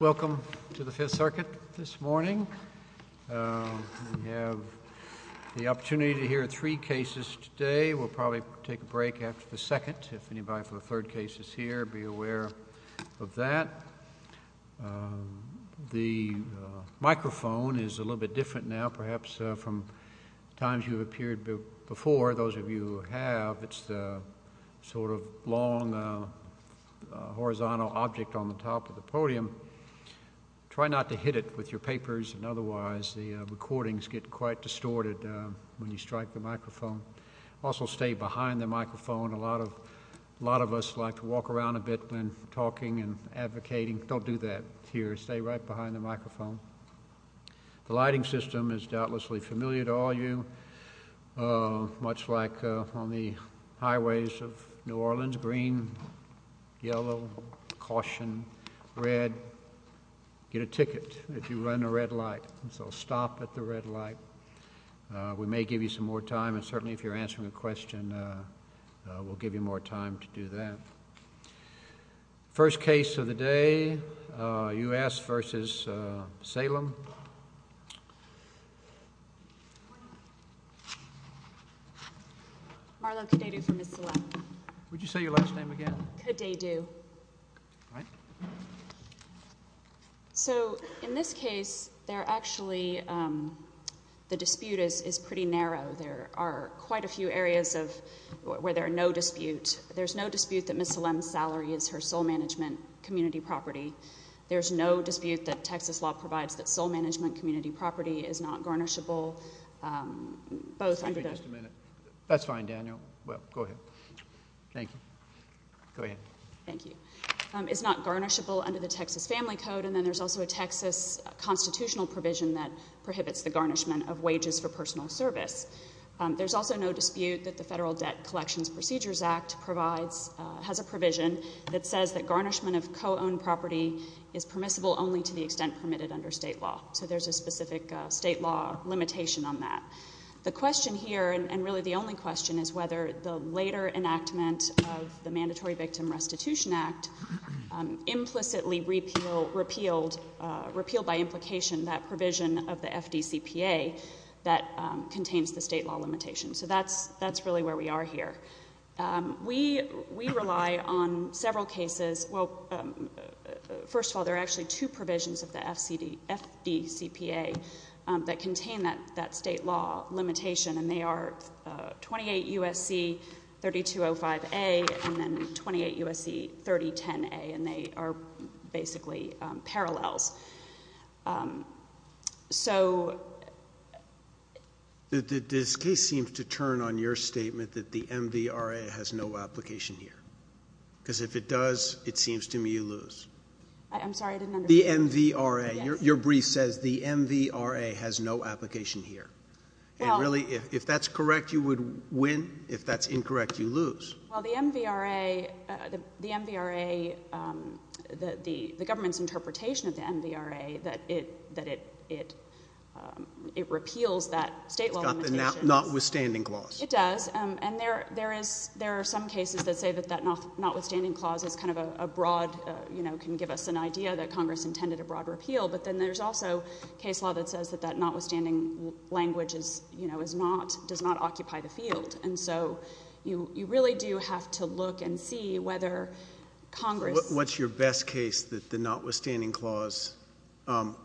Welcome to the Fifth Circuit this morning. We have the opportunity to hear three cases today. We'll probably take a break after the second. If anybody for the third case is here, be aware of that. The microphone is a little bit different now, perhaps from times you've appeared before. For those of you who have, it's the sort of long horizontal object on the top of the podium. Try not to hit it with your papers and otherwise the recordings get quite distorted when you strike the microphone. Also stay behind the microphone. A lot of us like to walk around a bit when talking and advocating. Don't do that here. Stay right behind the microphone. The lighting system is doubtlessly familiar to all of you. Much like on the highways of New Orleans, green, yellow, caution, red. Get a ticket if you run a red light. So stop at the red light. We may give you some more time and certainly if you're answering a question, we'll give you more time to do that. The first case of the day, U.S. versus Salem. Marlo Kadeidu from Missoula. Would you say your last name again? Kadeidu. Right. So in this case, the dispute is pretty narrow. There are quite a few areas where there are no disputes. There's no dispute that Miss Salem's salary is her sole management community property. There's no dispute that Texas law provides that sole management community property is not garnishable. That's fine, Daniel. Well, go ahead. Thank you. Go ahead. Thank you. It's not garnishable under the Texas Family Code and then there's also a Texas constitutional provision that prohibits the garnishment of wages for personal service. There's also no dispute that the Federal Debt Collections Procedures Act provides, has a provision that says that garnishment of co-owned property is permissible only to the extent permitted under state law. So there's a specific state law limitation on that. The question here, and really the only question, is whether the later enactment of the Mandatory Victim Restitution Act implicitly repealed by implication that provision of the FDCPA that contains the state law limitation. So that's really where we are here. We rely on several cases. Well, first of all, there are actually two provisions of the FDCPA that contain that state law limitation and they are 28 U.S.C. 3205A and then 28 U.S.C. 3010A and are basically parallels. This case seems to turn on your statement that the MVRA has no application here. Because if it does, it seems to me you lose. I'm sorry, I didn't understand. The MVRA. Your brief says the MVRA has no application here. If that's correct, you would the government's interpretation of the MVRA that it repeals that state law limitation. Notwithstanding clause. It does. And there are some cases that say that that notwithstanding clause is kind of a broad, you know, can give us an idea that Congress intended a broad repeal. But then there's also case law that says that that notwithstanding language does not occupy the field. And so you really do have to look and see whether Congress. What's your best case that the notwithstanding clause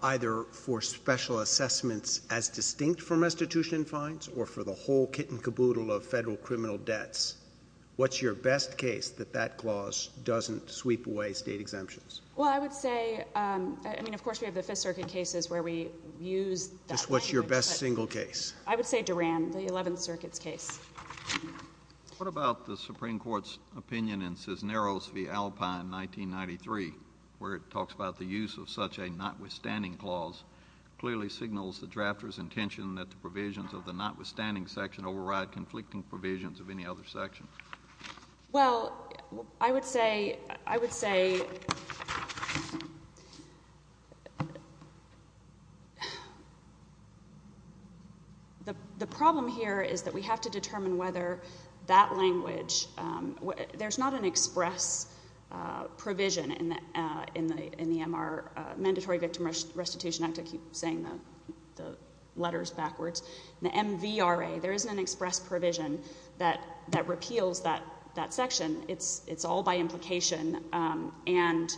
either for special assessments as distinct from restitution fines or for the whole kit and caboodle of federal criminal debts. What's your best case that that clause doesn't sweep away state exemptions? Well, I would say, I mean, of course, we have the Fifth Circuit cases where we use that. What's your best single case? I would say Duran, the 11th Circuit's case. What about the Supreme Court's opinion in Cisneros v. Alpine, 1993, where it talks about the use of such a notwithstanding clause clearly signals the drafter's intention that the provisions of the notwithstanding section override conflicting provisions of any other section? Well, I would say, I would say the problem here is that we have to determine whether that language, there's not an express provision in the MR, Mandatory Victim Restitution Act. I keep saying the letters backwards. The MVRA, there isn't an express provision that repeals that section. It's all by implication. And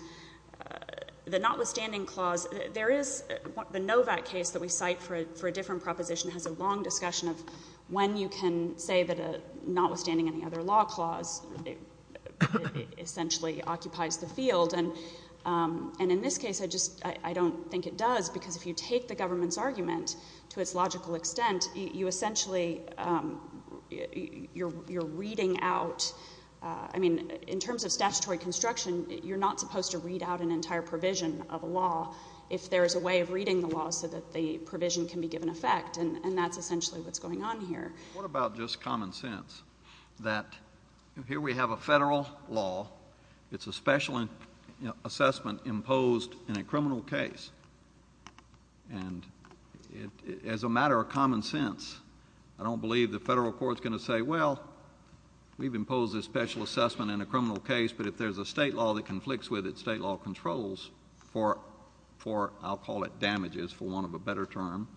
the notwithstanding clause, there is the Novak case that we cite for a different proposition has a long discussion of when you can say that a notwithstanding any other law clause essentially occupies the field. And in this case, I don't think it does because if you take the government's argument to its logical extent, you essentially, you're reading out, I mean, in terms of statutory construction, you're not supposed to read out an entire provision of a law if there is a way of reading the law so that the provision can be given effect. And that's essentially what's going on here. What about just common sense that here we have a federal law. It's a special assessment imposed in a criminal case. And as a matter of common sense, I don't believe the federal court's going to say, well, we've imposed this special assessment in a criminal case, but if there's a state law that conflicts with it, state law controls for, I'll call it damages for want of a better term,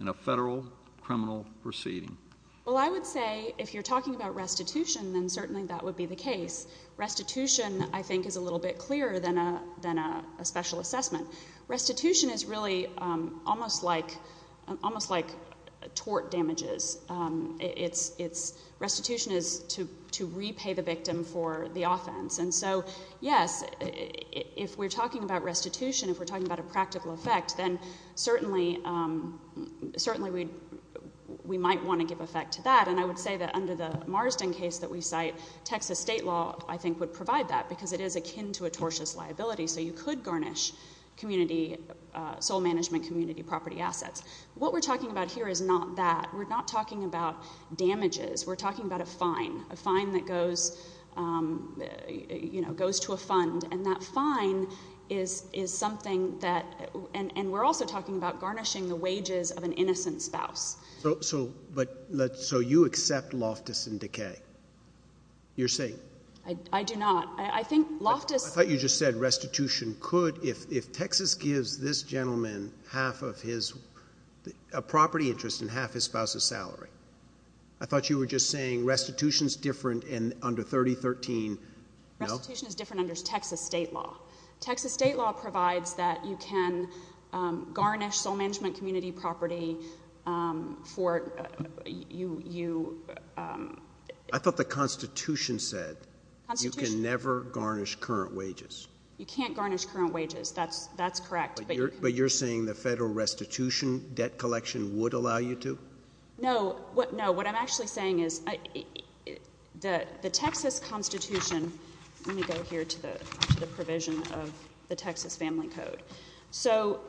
in a federal criminal proceeding. Well, I would say if you're talking about restitution, then certainly that would be the case. Restitution, I think, is a little bit clearer than a special assessment. Restitution is really almost like tort damages. Restitution is to repay the victim for the offense. And so, yes, if we're talking about restitution, if we're talking about a practical effect, then certainly we might want to give effect to that. And I would say that under the Marsden case that we cite, Texas state law, I think, would provide that, because it is akin to a tortious liability. So you could garnish community, sole management community property assets. What we're talking about here is not that. We're not talking about damages. We're talking about, you know, goes to a fund. And that fine is something that, and we're also talking about garnishing the wages of an innocent spouse. So you accept loftus and decay? You're saying? I do not. I think loftus... I thought you just said restitution could, if Texas gives this gentleman half of his, a property interest and half his spouse's salary. I thought you were just saying restitution is different under 3013. No? Restitution is different under Texas state law. Texas state law provides that you can garnish sole management community property for... I thought the Constitution said you can never garnish current wages. You can't garnish current wages. That's correct. But you're saying the federal restitution debt collection would allow you to? No. No. What I'm actually saying is that the Texas Constitution, let me go here to the provision of the Texas Family Code. So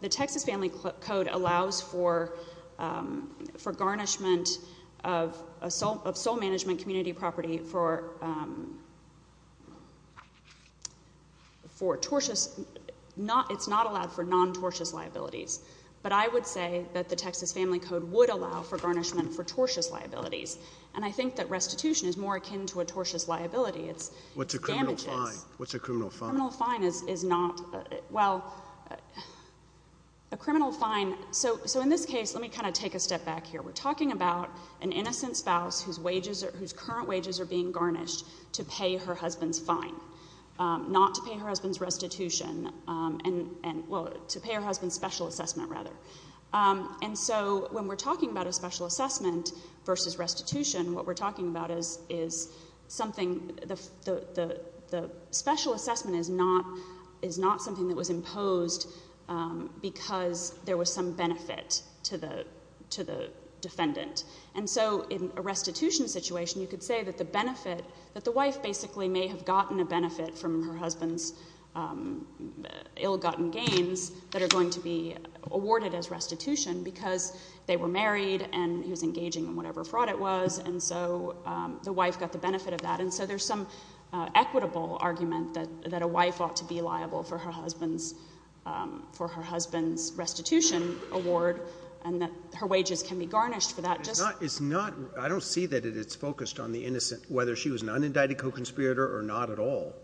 the Texas Family Code allows for garnishment of sole management community property for tortious... It's not allowed for non-tortious liabilities. But I would say that the Texas Family Code would allow for garnishment for tortious liabilities. And I think that restitution is more akin to a tortious liability. It's damages. What's a criminal fine? What's a criminal fine? A criminal fine is not... Well, a criminal fine... So in this case, let me kind of take a step back here. We're talking about an innocent spouse whose wages, whose current wages are being garnished to pay her husband's fine, not to pay her husband's restitution. Well, to pay her husband's special assessment, rather. And so when we're talking about a special assessment versus restitution, what we're talking about is something... The special assessment is not something that was imposed because there was some benefit to the defendant. And so in a restitution situation, you could say that the benefit, that the wife basically may have gotten a benefit from her husband's ill-gotten gains that are going to be awarded as restitution because they were married and he was engaging in whatever fraud it was. And so the wife got the benefit of that. And so there's some equitable argument that a wife ought to be liable for her husband's restitution award and that her wages can be garnished for that. I don't see that it's focused on the innocent, whether she was an unindicted co-conspirator or not at all.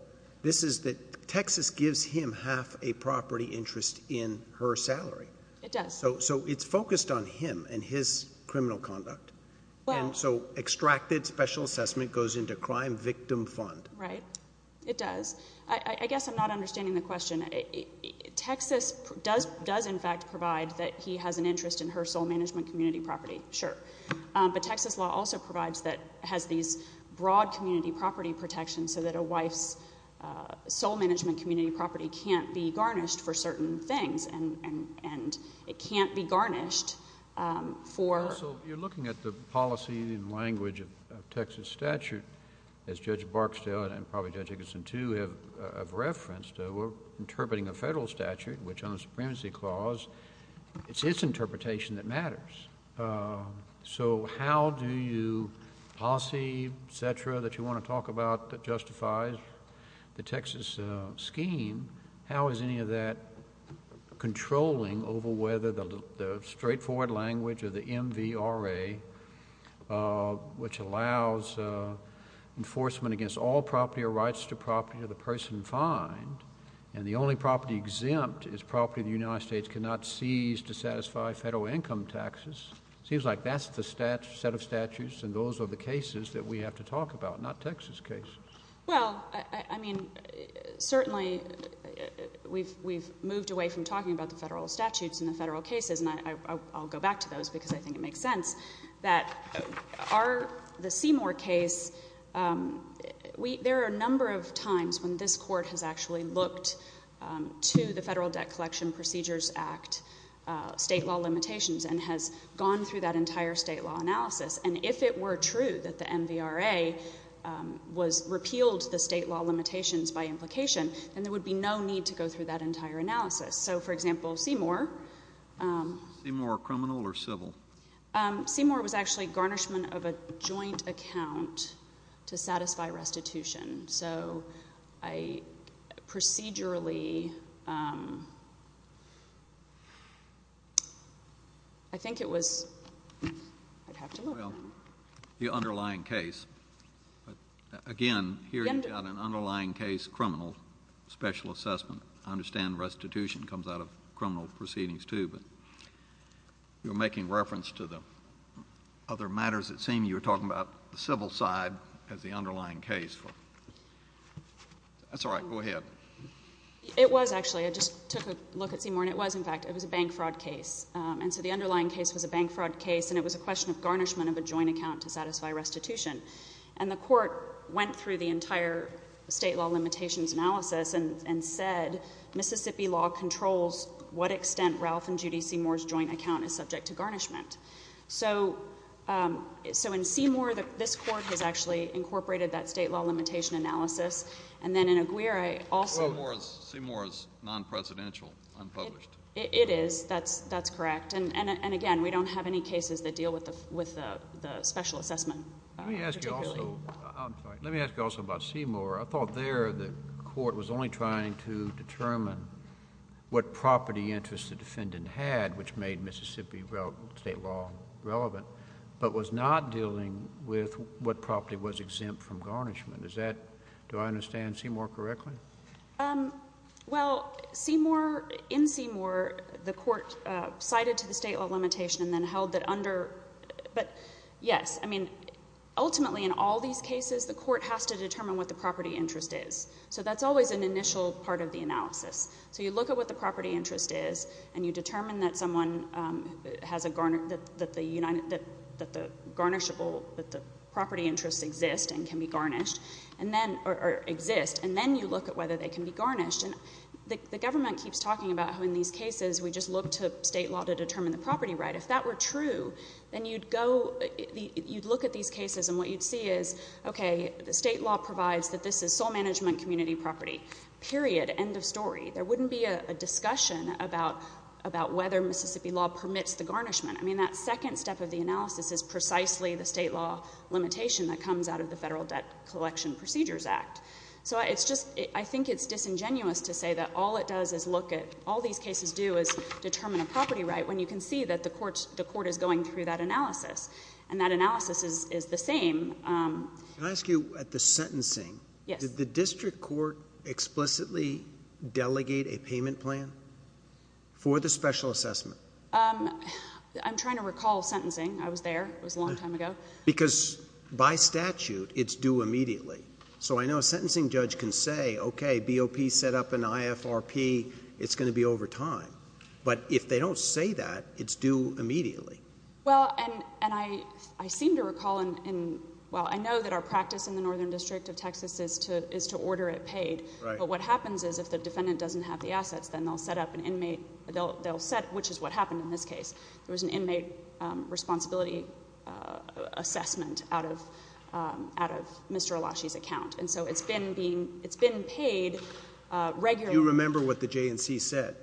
This is that Texas gives him half a property interest in her salary. It does. So it's focused on him and his criminal conduct. And so extracted special assessment goes into crime victim fund. Right. It does. I guess I'm not understanding the question. Texas does in fact provide that he has an interest in her sole management community property. Sure. But Texas law also provides that has these broad community property protections so that a wife's sole management community property can't be garnished for certain things and it can't be garnished for. So you're looking at the policy and language of Texas statute as Judge Barksdale and probably Judge Higginson too have referenced. We're interpreting a federal statute which on its interpretation that matters. So how do you policy etc. that you want to talk about that justifies the Texas scheme? How is any of that controlling over whether the straightforward language or the MVRA which allows enforcement against all property or rights to property of person find and the only property exempt is property of the United States cannot seize to satisfy federal income taxes? Seems like that's the stat set of statutes and those are the cases that we have to talk about, not Texas case. Well, I mean, certainly we've we've moved away from talking about the federal statutes in the federal cases. And I'll go back to those because I think it makes sense that the Seymour case, there are a number of times when this court has actually looked to the Federal Debt Collection Procedures Act state law limitations and has gone through that entire state law analysis. And if it were true that the MVRA was repealed the state law limitations by implication, then there would be no need to go through that entire analysis. So Seymour was actually garnishment of a joint account to satisfy restitution. So I procedurally I think it was, I'd have to look. Well, the underlying case. Again, here you've got an underlying case criminal special assessment. I understand restitution comes out of criminal proceedings too, but you're making reference to the other matters that seem, you were talking about the civil side as the underlying case. That's all right, go ahead. It was actually, I just took a look at Seymour and it was in fact, it was a bank fraud case. And so the underlying case was a bank fraud case and it was a question of garnishment of a joint account to satisfy restitution. And the court went through the entire state law limitations analysis and said Mississippi law controls what extent Ralph and Judy Seymour's joint account is subject to garnishment. So in Seymour, this court has actually incorporated that state law limitation analysis. And then in Aguirre also. Seymour is non-presidential, unpublished. It is, that's correct. And again, we don't have any cases that deal with the special assessment. Let me ask you also about Seymour. I thought there the court was only trying to determine what property interest the defendant had, which made Mississippi state law relevant, but was not dealing with what property was exempt from garnishment. Is that, do I understand Seymour correctly? Well, Seymour, in Seymour, the court cited to the state law limitation and then held that under, but yes, I mean, ultimately in all these cases, the court has to determine what the property interest is. So that's always an initial part of the analysis. So you look at what the property interest is and you determine that someone has a, that the garnishable, that the property interests exist and can be garnished and then, or exist, and then you look at whether they can be garnished. And the government keeps talking about how in these cases, we just look to state law to look at these cases and what you'd see is, okay, the state law provides that this is sole management community property, period, end of story. There wouldn't be a discussion about whether Mississippi law permits the garnishment. I mean, that second step of the analysis is precisely the state law limitation that comes out of the Federal Debt Collection Procedures Act. So it's just, I think it's disingenuous to say that all it does is look at, all these cases do is determine a property right when you can see that the courts, the court is going through that analysis and that analysis is the same. Can I ask you at the sentencing, did the district court explicitly delegate a payment plan for the special assessment? I'm trying to recall sentencing. I was there. It was a long time ago. Because by statute, it's due immediately. So I know a sentencing judge can say, okay, BOP set up an IFRP, it's going to be over time. But if they don't say that, it's due immediately. Well, and I seem to recall, well, I know that our practice in the Northern District of Texas is to order it paid. But what happens is if the defendant doesn't have the assets, then they'll set up an inmate, they'll set, which is what happened in this case. There was an inmate responsibility assessment out of, out of Mr. Elashi's account. And so it's been being, it's been paid regularly. Do you remember what the JNC said?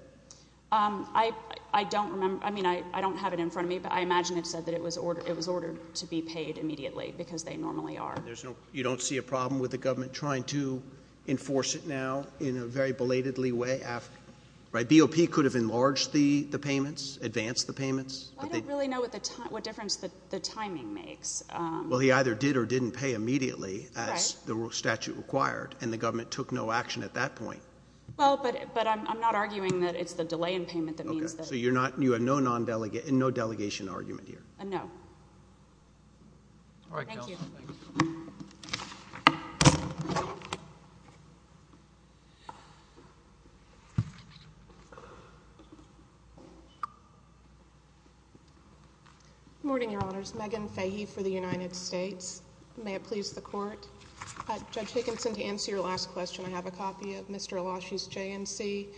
I, I don't remember. I mean, I don't have it in front of me, but I imagine it said that it was ordered, it was ordered to be paid immediately because they normally are. There's no, you don't see a problem with the government trying to enforce it now in a very belatedly way after, right? BOP could have enlarged the, the payments, advanced the payments. I don't really know what the time, what difference the timing makes. Well, he either did or didn't pay immediately as the statute required, and the government took no action at that point. Well, but, but I'm not arguing that it's the delay in payment that means that. Okay, so you're not, you have no non-delegate, no delegation argument here? No. All right. Thank you. Good morning, Your Honors. Megan Fahey for the United States. May it please the Court. Judge Higginson, to answer your last question, I have a copy of Mr. Elashi's JNC,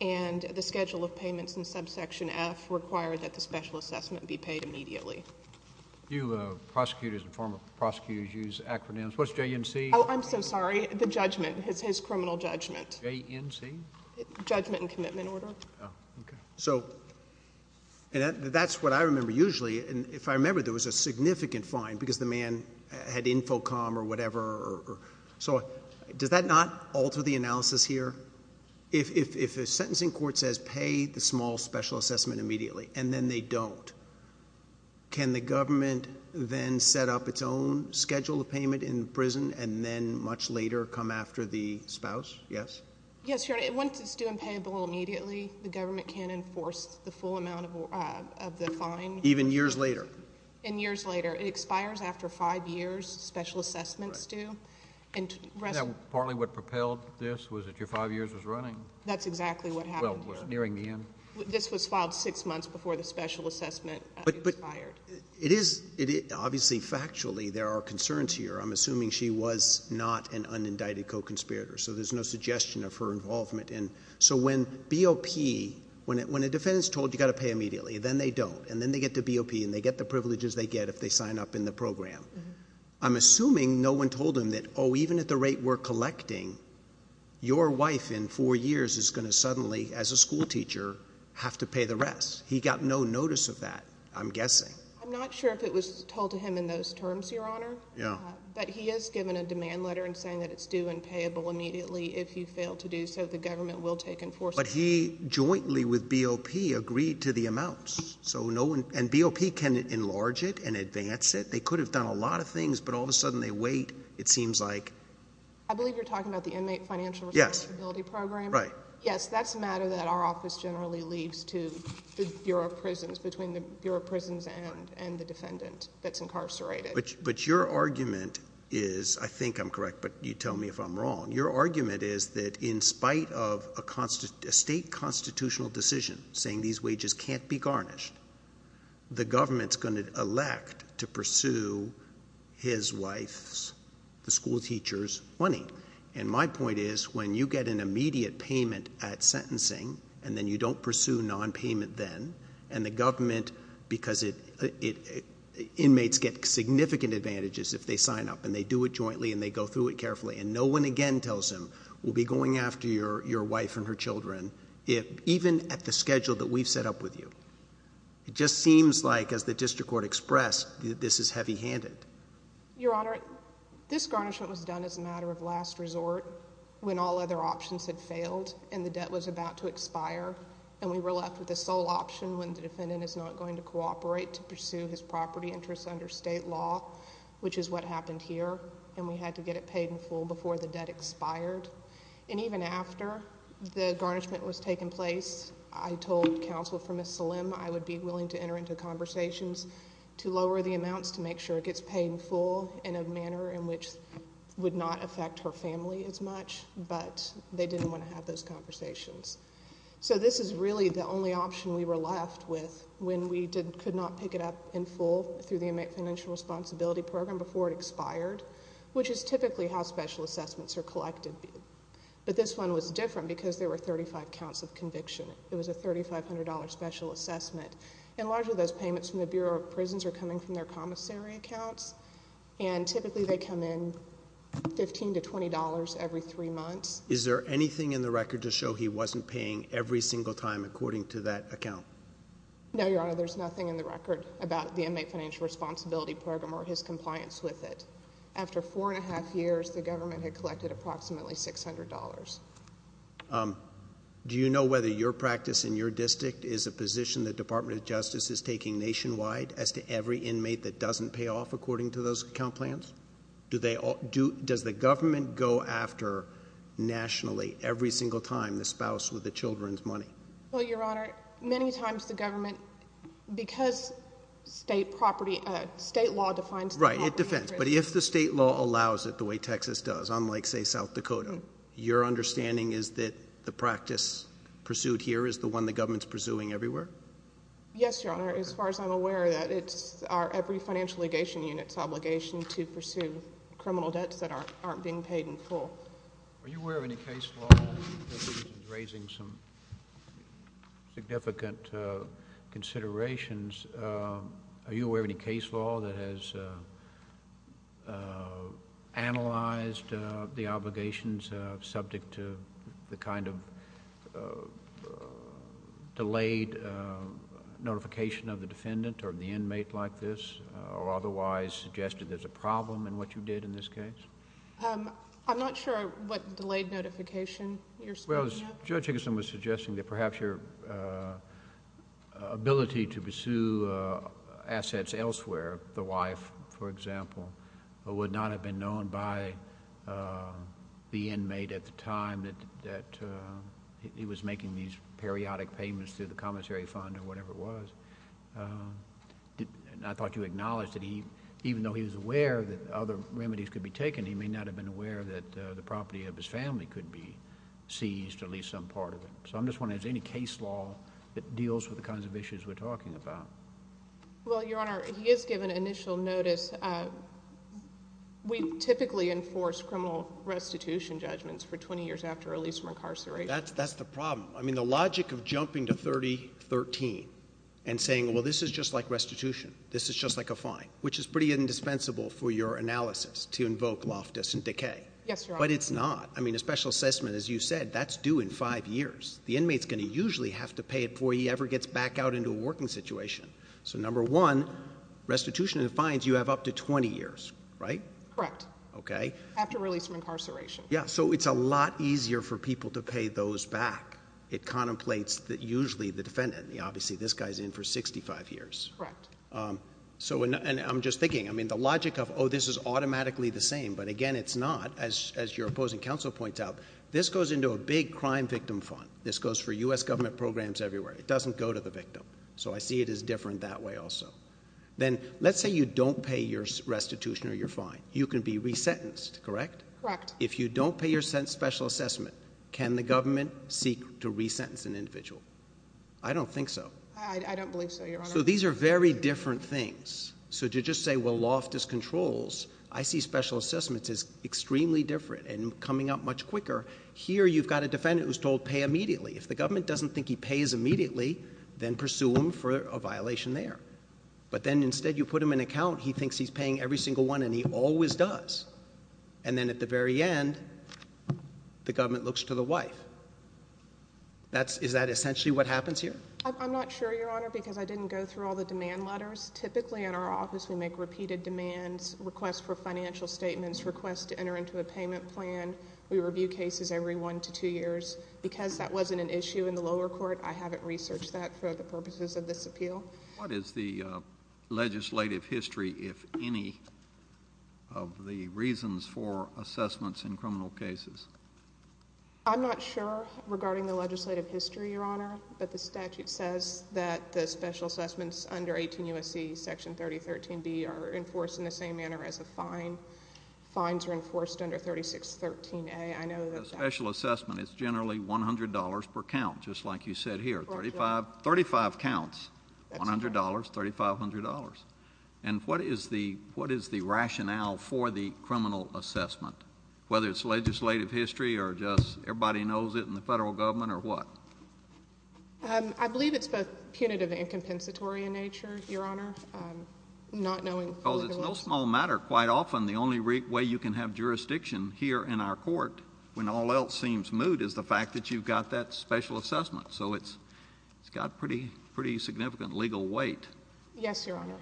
and the schedule of payments in subsection F required that the special assessment be paid immediately. You, prosecutors and former prosecutors use acronyms. What's JNC? Oh, I'm so sorry. The judgment, his, his criminal judgment. JNC? Judgment and commitment order. Oh, okay. So, and that, that's what I remember usually, and if I remember, there was a significant fine because the man had InfoComm or whatever, or, or, so does that not alter the analysis here? If, if, if a sentencing court says pay the small special assessment immediately, and then they don't, can the government then set up its own schedule of payment in prison, and then much later come after the spouse? Yes? Yes, Your Honor. Once it's doing payable immediately, the government can't enforce the full amount of, uh, of the fine. Even years later? And years later. It expires after five years, special assessments do. Right. And, and that was partly what propelled this? Was it your five years was running? That's exactly what happened. Well, we're nearing the end. This was filed six months before the special assessment expired. But, but it is, it is, obviously, factually, there are concerns here. I'm assuming she was not an unindicted co-conspirator, so there's no suggestion of her involvement, and so when BOP, when, when a defendant's told you got to pay immediately, then they don't, and then they get to BOP, and they get the privileges they get if they sign up in the program. I'm assuming no one told him that, oh, even at the rate we're collecting, your wife in four years is going to suddenly, as a school teacher, have to pay the rest. He got no notice of that, I'm guessing. I'm not sure if it was told to him in those terms, Your Honor. Yeah. But he has given a demand letter and saying that it's due and payable immediately if you fail to do so, the government will take enforcement. But he jointly with BOP agreed to the amounts, so no one, and BOP can enlarge it and advance it. They could have done a lot of things, but all of a sudden, they wait. It seems like. I believe you're talking about the inmate financial responsibility program. Yes. Right. Yes, that's a matter that our office generally leaves to the Bureau of Prisons, between the Bureau of Prisons and the defendant that's incarcerated. But your argument is, I think I'm correct, but you tell me if I'm wrong, your argument is that in spite of a state constitutional decision saying these wages can't be garnished, the government's going to elect to pursue his wife's, the school teacher's money. And my point is, when you get an immediate payment at sentencing, and then you don't pursue nonpayment then, and the government, because inmates get significant advantages if they sign up and they do it jointly and they go through it carefully, and no one again tells him, we'll be going after your wife and her children, even at the schedule that we've set up with you. It just seems like, as the district court expressed, this is heavy-handed. Your Honor, this garnishment was done as a matter of last resort when all other options had failed and the debt was about to expire, and we were left with a sole option when the defendant is not going to cooperate to pursue his property interests under state law, which is what happened here, and we had to get it paid in full before the debt expired. And even after the garnishment was taking place, I told counsel for Ms. Salim I would be willing to enter into conversations to lower the amounts to make sure it gets paid in full in a manner in which it would not affect her family as much, but they didn't want to have those conversations. So this is really the only option we were left with when we could not pick it up in full through the which is typically how special assessments are collected. But this one was different because there were 35 counts of conviction. It was a $3,500 special assessment, and largely those payments from the Bureau of Prisons are coming from their commissary accounts, and typically they come in $15 to $20 every three months. Is there anything in the record to show he wasn't paying every single time according to that account? No, Your Honor, there's nothing in the record about the Inmate Financial Responsibility Program or his compliance with it. After four and a half years, the government had collected approximately $600. Do you know whether your practice in your district is a position the Department of Justice is taking nationwide as to every inmate that doesn't pay off according to those account plans? Does the government go after nationally every single time the spouse with the children's money? Well, Your Honor, many times the government, because state property, state law defines it. Right, it defends. But if the state law allows it the way Texas does, unlike, say, South Dakota, your understanding is that the practice pursued here is the one the government's pursuing everywhere? Yes, Your Honor, as far as I'm aware, that it's our every financial legation unit's obligation to pursue criminal debts that aren't being paid in full. Are you aware of any case law that's raising some significant considerations? Are you aware of any case law that has analyzed the obligations subject to the kind of delayed notification of the defendant or the inmate like this, or otherwise suggested there's a problem in what you did in this case? I'm not sure what delayed notification you're speaking of. Well, Judge Higginson was suggesting that perhaps your ability to pursue assets elsewhere, the wife, for example, would not have been known by the inmate at the time that he was making these periodic payments to the commissary fund or remedies could be taken, he may not have been aware that the property of his family could be seized, or at least some part of it. So I'm just wondering, is there any case law that deals with the kinds of issues we're talking about? Well, Your Honor, he has given initial notice. We typically enforce criminal restitution judgments for 20 years after release from incarceration. That's the problem. I mean, the logic of jumping to 3013 and saying, well, this is just like restitution, this is just like a fine, which is pretty indispensable for your analysis to invoke loftus and decay. Yes, Your Honor. But it's not. I mean, a special assessment, as you said, that's due in five years. The inmate's going to usually have to pay it before he ever gets back out into a working situation. So number one, restitution and fines, you have up to 20 years, right? Correct. Okay. After release from incarceration. Yeah, so it's a lot easier for people to pay those back. It contemplates that usually the defendant, obviously this guy's in for 65 years. Correct. So, and I'm just thinking, I mean, the logic of, oh, this is automatically the same, but again, it's not. As your opposing counsel points out, this goes into a big crime victim fund. This goes for U.S. government programs everywhere. It doesn't go to the victim. So I see it as different that way also. Then let's say you don't pay your restitution or your fine. You can be resentenced, correct? Correct. If you don't pay your special assessment, can the government seek to re-sentence an individual? I don't think so. I don't believe so, Your Honor. So these are very different things. So to just say, well, loft is controls, I see special assessments as extremely different and coming up much quicker. Here you've got a defendant who's told pay immediately. If the government doesn't think he pays immediately, then pursue him for a violation there. But then instead you put him in an account, he thinks he's paying every single one and he always does. And then at the very end, the government looks to the wife. Is that essentially what happens here? I'm not sure, Your Honor, because I didn't go through all the demand letters. Typically in our office, we make repeated demands, requests for financial statements, requests to enter into a payment plan. We review cases every one to two years. Because that wasn't an issue in the lower court, I haven't researched that for the purposes of this appeal. What is the legislative history, if any, of the reasons for assessments in criminal cases? I'm not sure regarding the legislative history, Your Honor, but the statute says that the special assessments under 18 U.S.C. Section 3013B are enforced in the same manner as a fine. Fines are enforced under 3613A. The special assessment is generally $100 per count, just like you said here, 35 counts, $100, $3,500. And what is the rationale for the criminal assessment, whether it's legislative history or just everybody knows it in the federal government or what? I believe it's both punitive and compensatory in nature, Your Honor, not knowing. Because it's no small matter. Quite often, the only way you can have jurisdiction here in our So it's got pretty significant legal weight. Yes, Your Honor.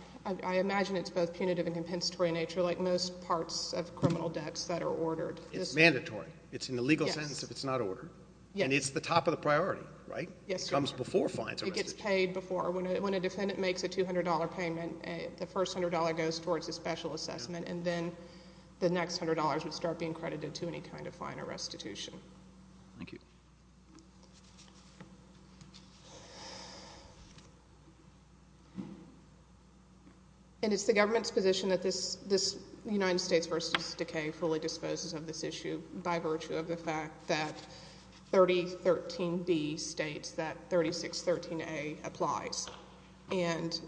I imagine it's both punitive and compensatory in nature, like most parts of criminal debts that are ordered. It's mandatory. It's in the legal sentence if it's not ordered. Yes. And it's the top of the priority, right? Yes, Your Honor. It comes before fines are restituted. It gets paid before. When a defendant makes a $200 payment, the first $100 goes towards a special assessment, and then the next $100 would start being credited to any kind of fine or restitution. Thank you. And it's the government's position that this United States v. Decay fully disposes of this issue by virtue of the fact that 3013B states that 3613A applies. And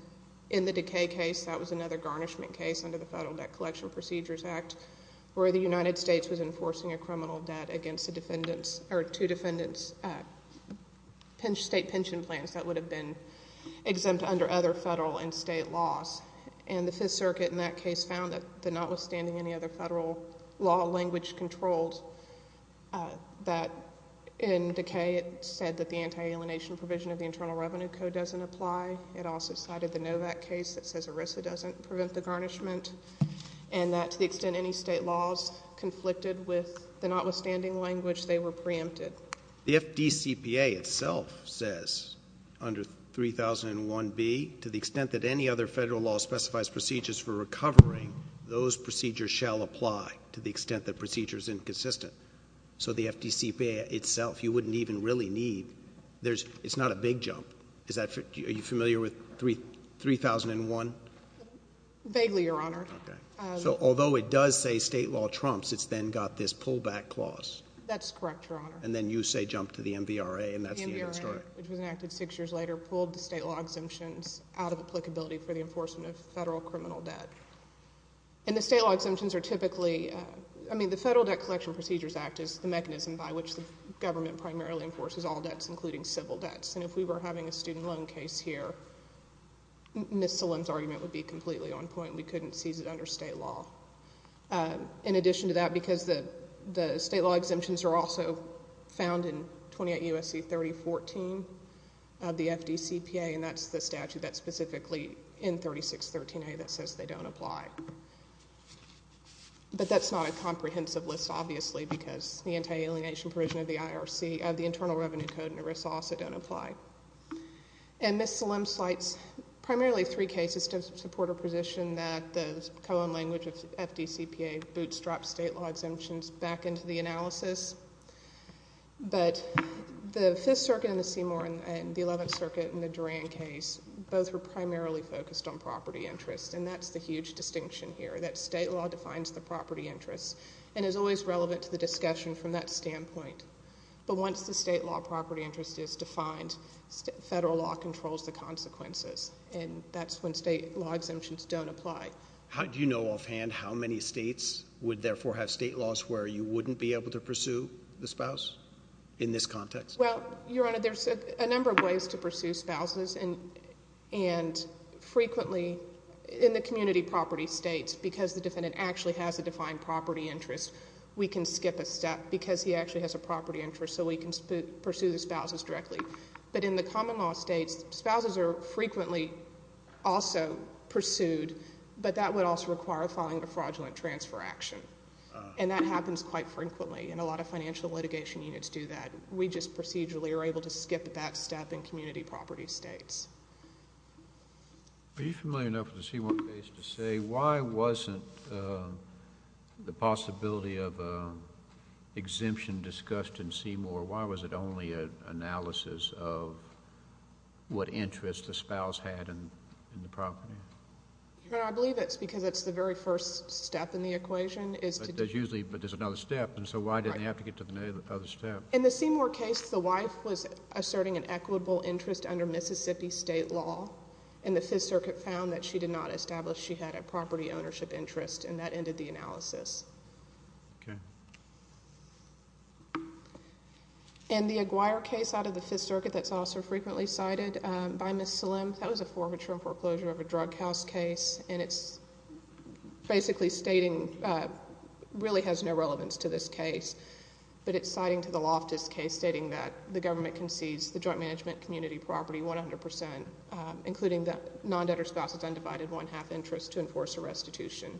in the Decay case, that was another garnishment case under the Federal Debt Collection Procedures Act where the United States was enforcing a criminal debt against two defendants' state pension plans that would have been exempt under other federal and state laws. And the Fifth Circuit in that case found that notwithstanding any other federal law language controlled that in Decay, it said that the anti-alienation provision of the Internal Revenue Code doesn't apply. It also cited the Novak case that says ERISA doesn't prevent the garnishment, and that to the extent any state laws conflicted with the notwithstanding language, they were preempted. The FDCPA itself says under 3001B, to the extent that any other federal law specifies procedures for recovering, those procedures shall apply to the extent that procedure is inconsistent. So the FDCPA itself, you wouldn't even really need. It's not a big jump. Are you familiar with 3001? Vaguely, Your Honor. Okay. So although it does say state law trumps, it's then got this pullback clause. That's correct, Your Honor. And then you say jump to the MVRA, and that's the end of the story. MVRA, which was enacted six years later, pulled the state law exemptions out of applicability for the enforcement of federal criminal debt. And the state law exemptions are typically, I mean, the Federal Debt Collection Procedures Act is the mechanism by which the government primarily enforces all debts, including civil debts. And if we were having a student loan here, Ms. Salim's argument would be completely on point. We couldn't seize it under state law. In addition to that, because the state law exemptions are also found in 28 U.S.C. 3014 of the FDCPA, and that's the statute that's specifically in 3613A that says they don't apply. But that's not a comprehensive list, obviously, because the anti-alienation provision of the IRC, of the Internal Revenue Code and ERISA also don't apply. And Ms. Salim cites primarily three cases to support her position that the co-own language of FDCPA bootstraps state law exemptions back into the analysis. But the Fifth Circuit and the Seymour and the Eleventh Circuit and the Duran case, both were primarily focused on property interest, and that's the huge distinction here, that state law defines the property interest and is always relevant to the discussion from that standpoint. But once the state law property interest is defined, federal law controls the consequences, and that's when state law exemptions don't apply. Do you know offhand how many states would therefore have state laws where you wouldn't be able to pursue the spouse in this context? Well, Your Honor, there's a number of ways to pursue spouses, and frequently in the community property states, because the defendant actually has a defined property interest, we can skip a step, because he actually has a property interest, so we can pursue the spouses directly. But in the common law states, spouses are frequently also pursued, but that would also require filing a fraudulent transfer action, and that happens quite frequently, and a lot of financial litigation units do that. We just procedurally are able to skip that step in community property states. Are you familiar enough with the Seymour case to say why wasn't the possibility of an exemption discussed in Seymour, why was it only an analysis of what interest the spouse had in the property? Your Honor, I believe it's because it's the very first step in the equation is to But there's usually, but there's another step, and so why didn't they have to get to the other step? In the Seymour case, the wife was asserting an equitable interest under Mississippi state law, and the Fifth Circuit found that she did not establish she had a property ownership interest, and that ended the analysis. Okay. And the Aguirre case out of the Fifth Circuit that's also frequently cited by Ms. Salim, that was a forfeiture and foreclosure of a drug house case, and it's basically stating, really has no relevance to this case, but it's citing to the Loftus case stating that the government concedes the joint management community property 100%, including the non-debtor spouse's undivided one-half interest to enforce a restitution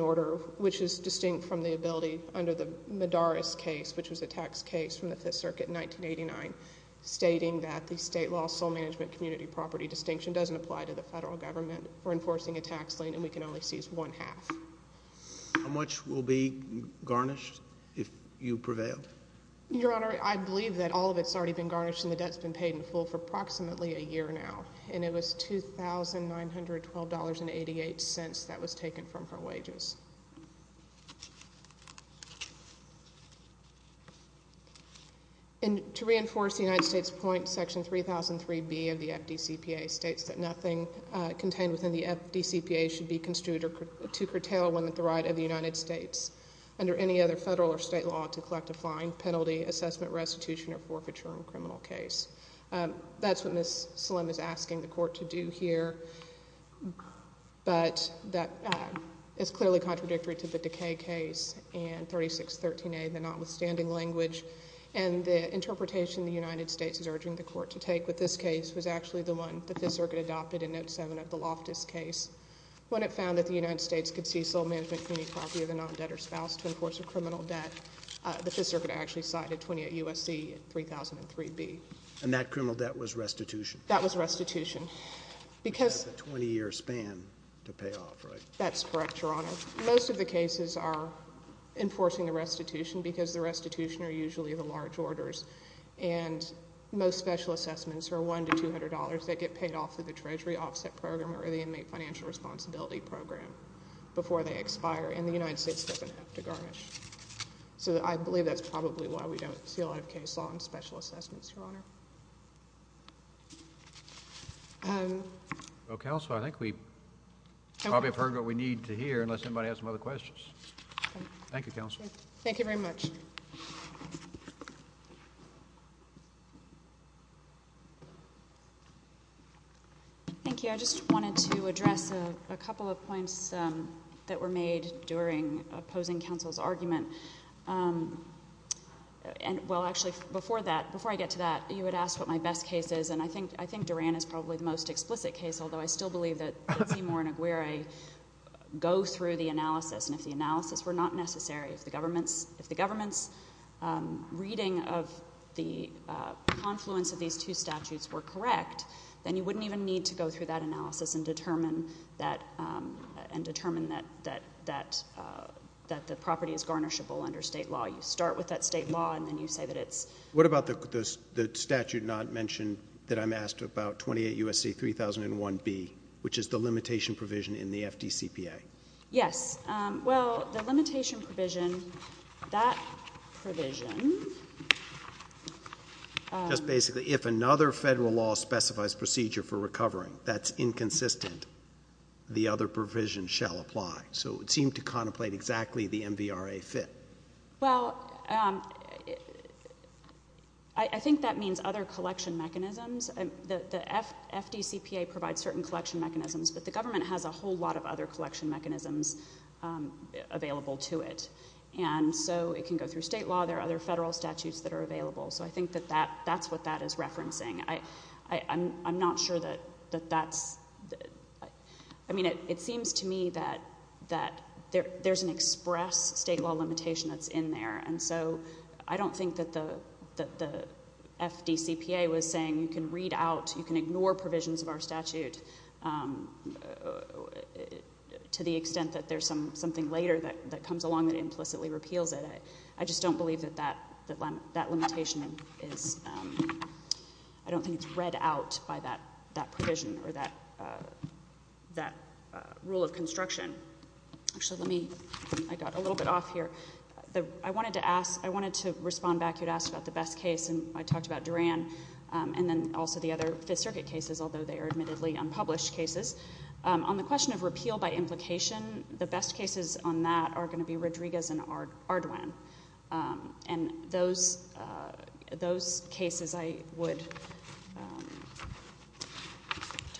order, which is distinct from the ability under the Medaris case, which was a tax case from the Fifth Circuit in 1989, stating that the state law sole management community property distinction doesn't apply to the federal government for enforcing a tax lien, and we can only seize one-half. How much will be garnished if you prevail? Your Honor, I believe that all of it's already been garnished, and the debt's been paid in full for approximately a year now, and it was $2,912.88 that was taken from her wages. And to reinforce the United States point, Section 3003B of the FDCPA states that nothing contained within the FDCPA should be construed to curtail one at the right of the United States under any other federal or state law to collect a fine, penalty, assessment, restitution, or forfeiture in a criminal case. That's what Ms. Salim is asking the Court to do here, but that is clearly contrary to the Decay case and 3613A, the notwithstanding language, and the interpretation the United States is urging the Court to take with this case was actually the one the Fifth Circuit adopted in Note 7 of the Loftus case. When it found that the United States could seize sole management community property of a non-debtor spouse to enforce a criminal debt, the Fifth Circuit actually cited 28 U.S.C. 3003B. And that criminal debt was restitution? That was restitution. Because — Because of the 20-year span to pay off, right? That's correct, Your Honor. Most of the cases are enforcing a restitution because the restitution are usually the large orders, and most special assessments are $100 to $200. They get paid off through the Treasury Offset Program or the Inmate Financial Responsibility Program before they expire, and the United States doesn't have to garnish. So I believe that's probably why we don't see a lot of case law in special assessments, Your Honor. Well, Counselor, I think we probably have heard what we need to hear, unless anybody has some other questions. Thank you, Counselor. Thank you very much. Thank you. I just wanted to address a couple of points that were made during opposing counsel's argument. And, well, actually, before that, before I get to that, you had asked what my best case is, and I think Duran is probably the most explicit case, although I still believe that if the analysis were not necessary, if the government's reading of the confluence of these two statutes were correct, then you wouldn't even need to go through that analysis and determine that the property is garnishable under state law. You start with that state law, and then you say that it's— What about the statute not mentioned that I'm asked about, 28 U.S.C. 3001b, which is the limitation provision in the FDCPA? Yes. Well, the limitation provision, that provision— Just basically, if another federal law specifies procedure for recovering that's inconsistent, the other provision shall apply. So it seemed to contemplate exactly the MVRA fit. Well, I think that means other collection mechanisms. The FDCPA provides certain collection mechanisms, but the government has a whole lot of other collection mechanisms available to it, and so it can go through state law. There are other federal statutes that are available. So I think that that's what that is referencing. I'm not sure that that's—I mean, it seems to me that there's an express state law limitation that's in there, and so I don't think that the FDCPA was saying you can read out, you can ignore provisions of our statute to the extent that there's something later that comes along that implicitly repeals it. I just don't believe that that limitation is—I don't think it's read out by that provision or that rule of construction. Actually, let me—I got a little bit off here. I wanted to ask—I wanted to respond back. You asked about the best case, and I talked about Duran and then also the other Fifth Circuit cases, although they are admittedly unpublished cases. On the question of repeal by implication, the best cases on that are going to be Rodriguez and Ardoin, and those cases I would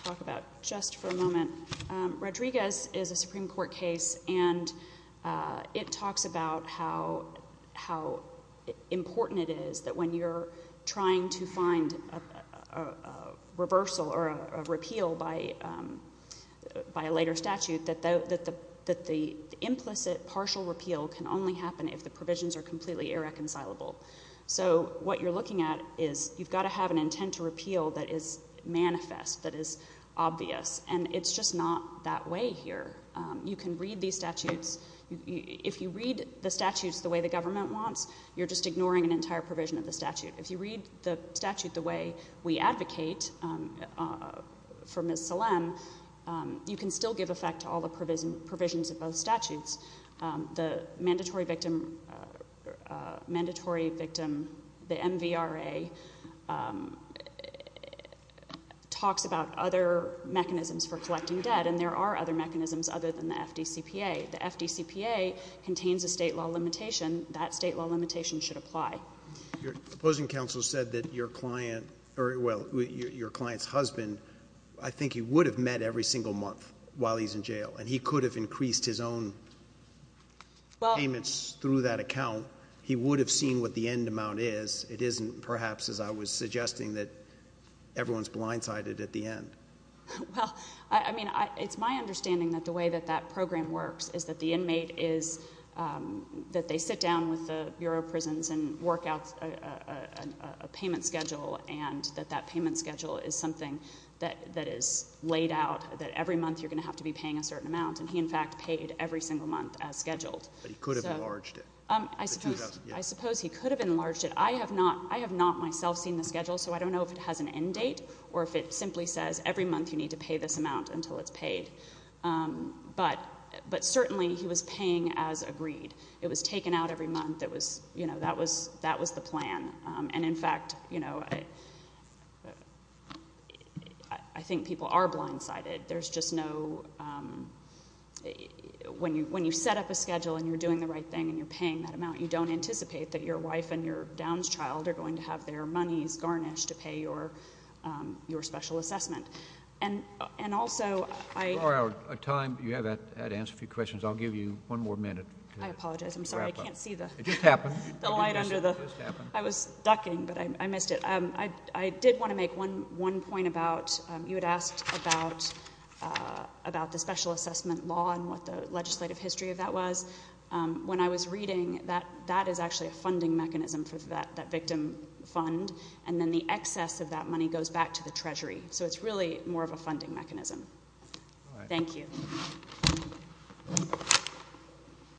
talk about just for a moment. Rodriguez is a Supreme Court case, and it talks about how important it is that when you're trying to find a reversal or a repeal by a later statute that the implicit partial repeal can only happen if the provisions are completely irreconcilable. So what you're looking at is you've got to have an intent to repeal that is manifest, that is obvious, and it's just not that way here. You can read these statutes—if you read the statutes the way the government wants, you're just ignoring an entire provision of the statute. If you read the statute the way we advocate for Ms. Salem, you can still give effect to all the provisions of those statutes. The mandatory victim, the MVRA, talks about other mechanisms for collecting debt, and there are other mechanisms other than the FDCPA. The FDCPA contains a state law limitation. That state law limitation should apply. Your opposing counsel said that your client's husband, I think he would have met every single month while he's in jail, and he could have increased his own payments through that account. He would have seen what the end amount is. It isn't, perhaps, as I was suggesting, that everyone's blindsided at the end. Well, I mean, it's my understanding that the way that that program works is that the inmate is—that they sit down with the Bureau of Prisons and work out a payment schedule and that that payment schedule is something that is laid out, that every month you're going to have to be paying a certain amount. And he, in fact, paid every single month as scheduled. But he could have enlarged it. I suppose he could have enlarged it. I have not myself seen the schedule, so I don't know if it has an end date or if it simply says every month you need to pay this amount until it's paid. But certainly, he was paying as agreed. It was taken out every month. That was the plan. And, in fact, you know, I think people are blindsided. There's just no—when you set up a schedule and you're doing the right thing and you're paying that amount, you don't anticipate that your wife and your down's child are going to have their monies garnished to pay your special assessment. And also, I— Laura, you have had time to answer a few questions. I'll give you one more minute to wrap up. I apologize. I'm sorry. I can't see the— It just happened. The light under the— It just happened. I was ducking, but I missed it. I did want to make one point about—you had asked about the special assessment law and what the legislative history of that was. When I was reading, that is actually a funding mechanism for that victim fund, and then the excess of that money goes back to the Treasury. So it's really more of a funding mechanism. Thank you.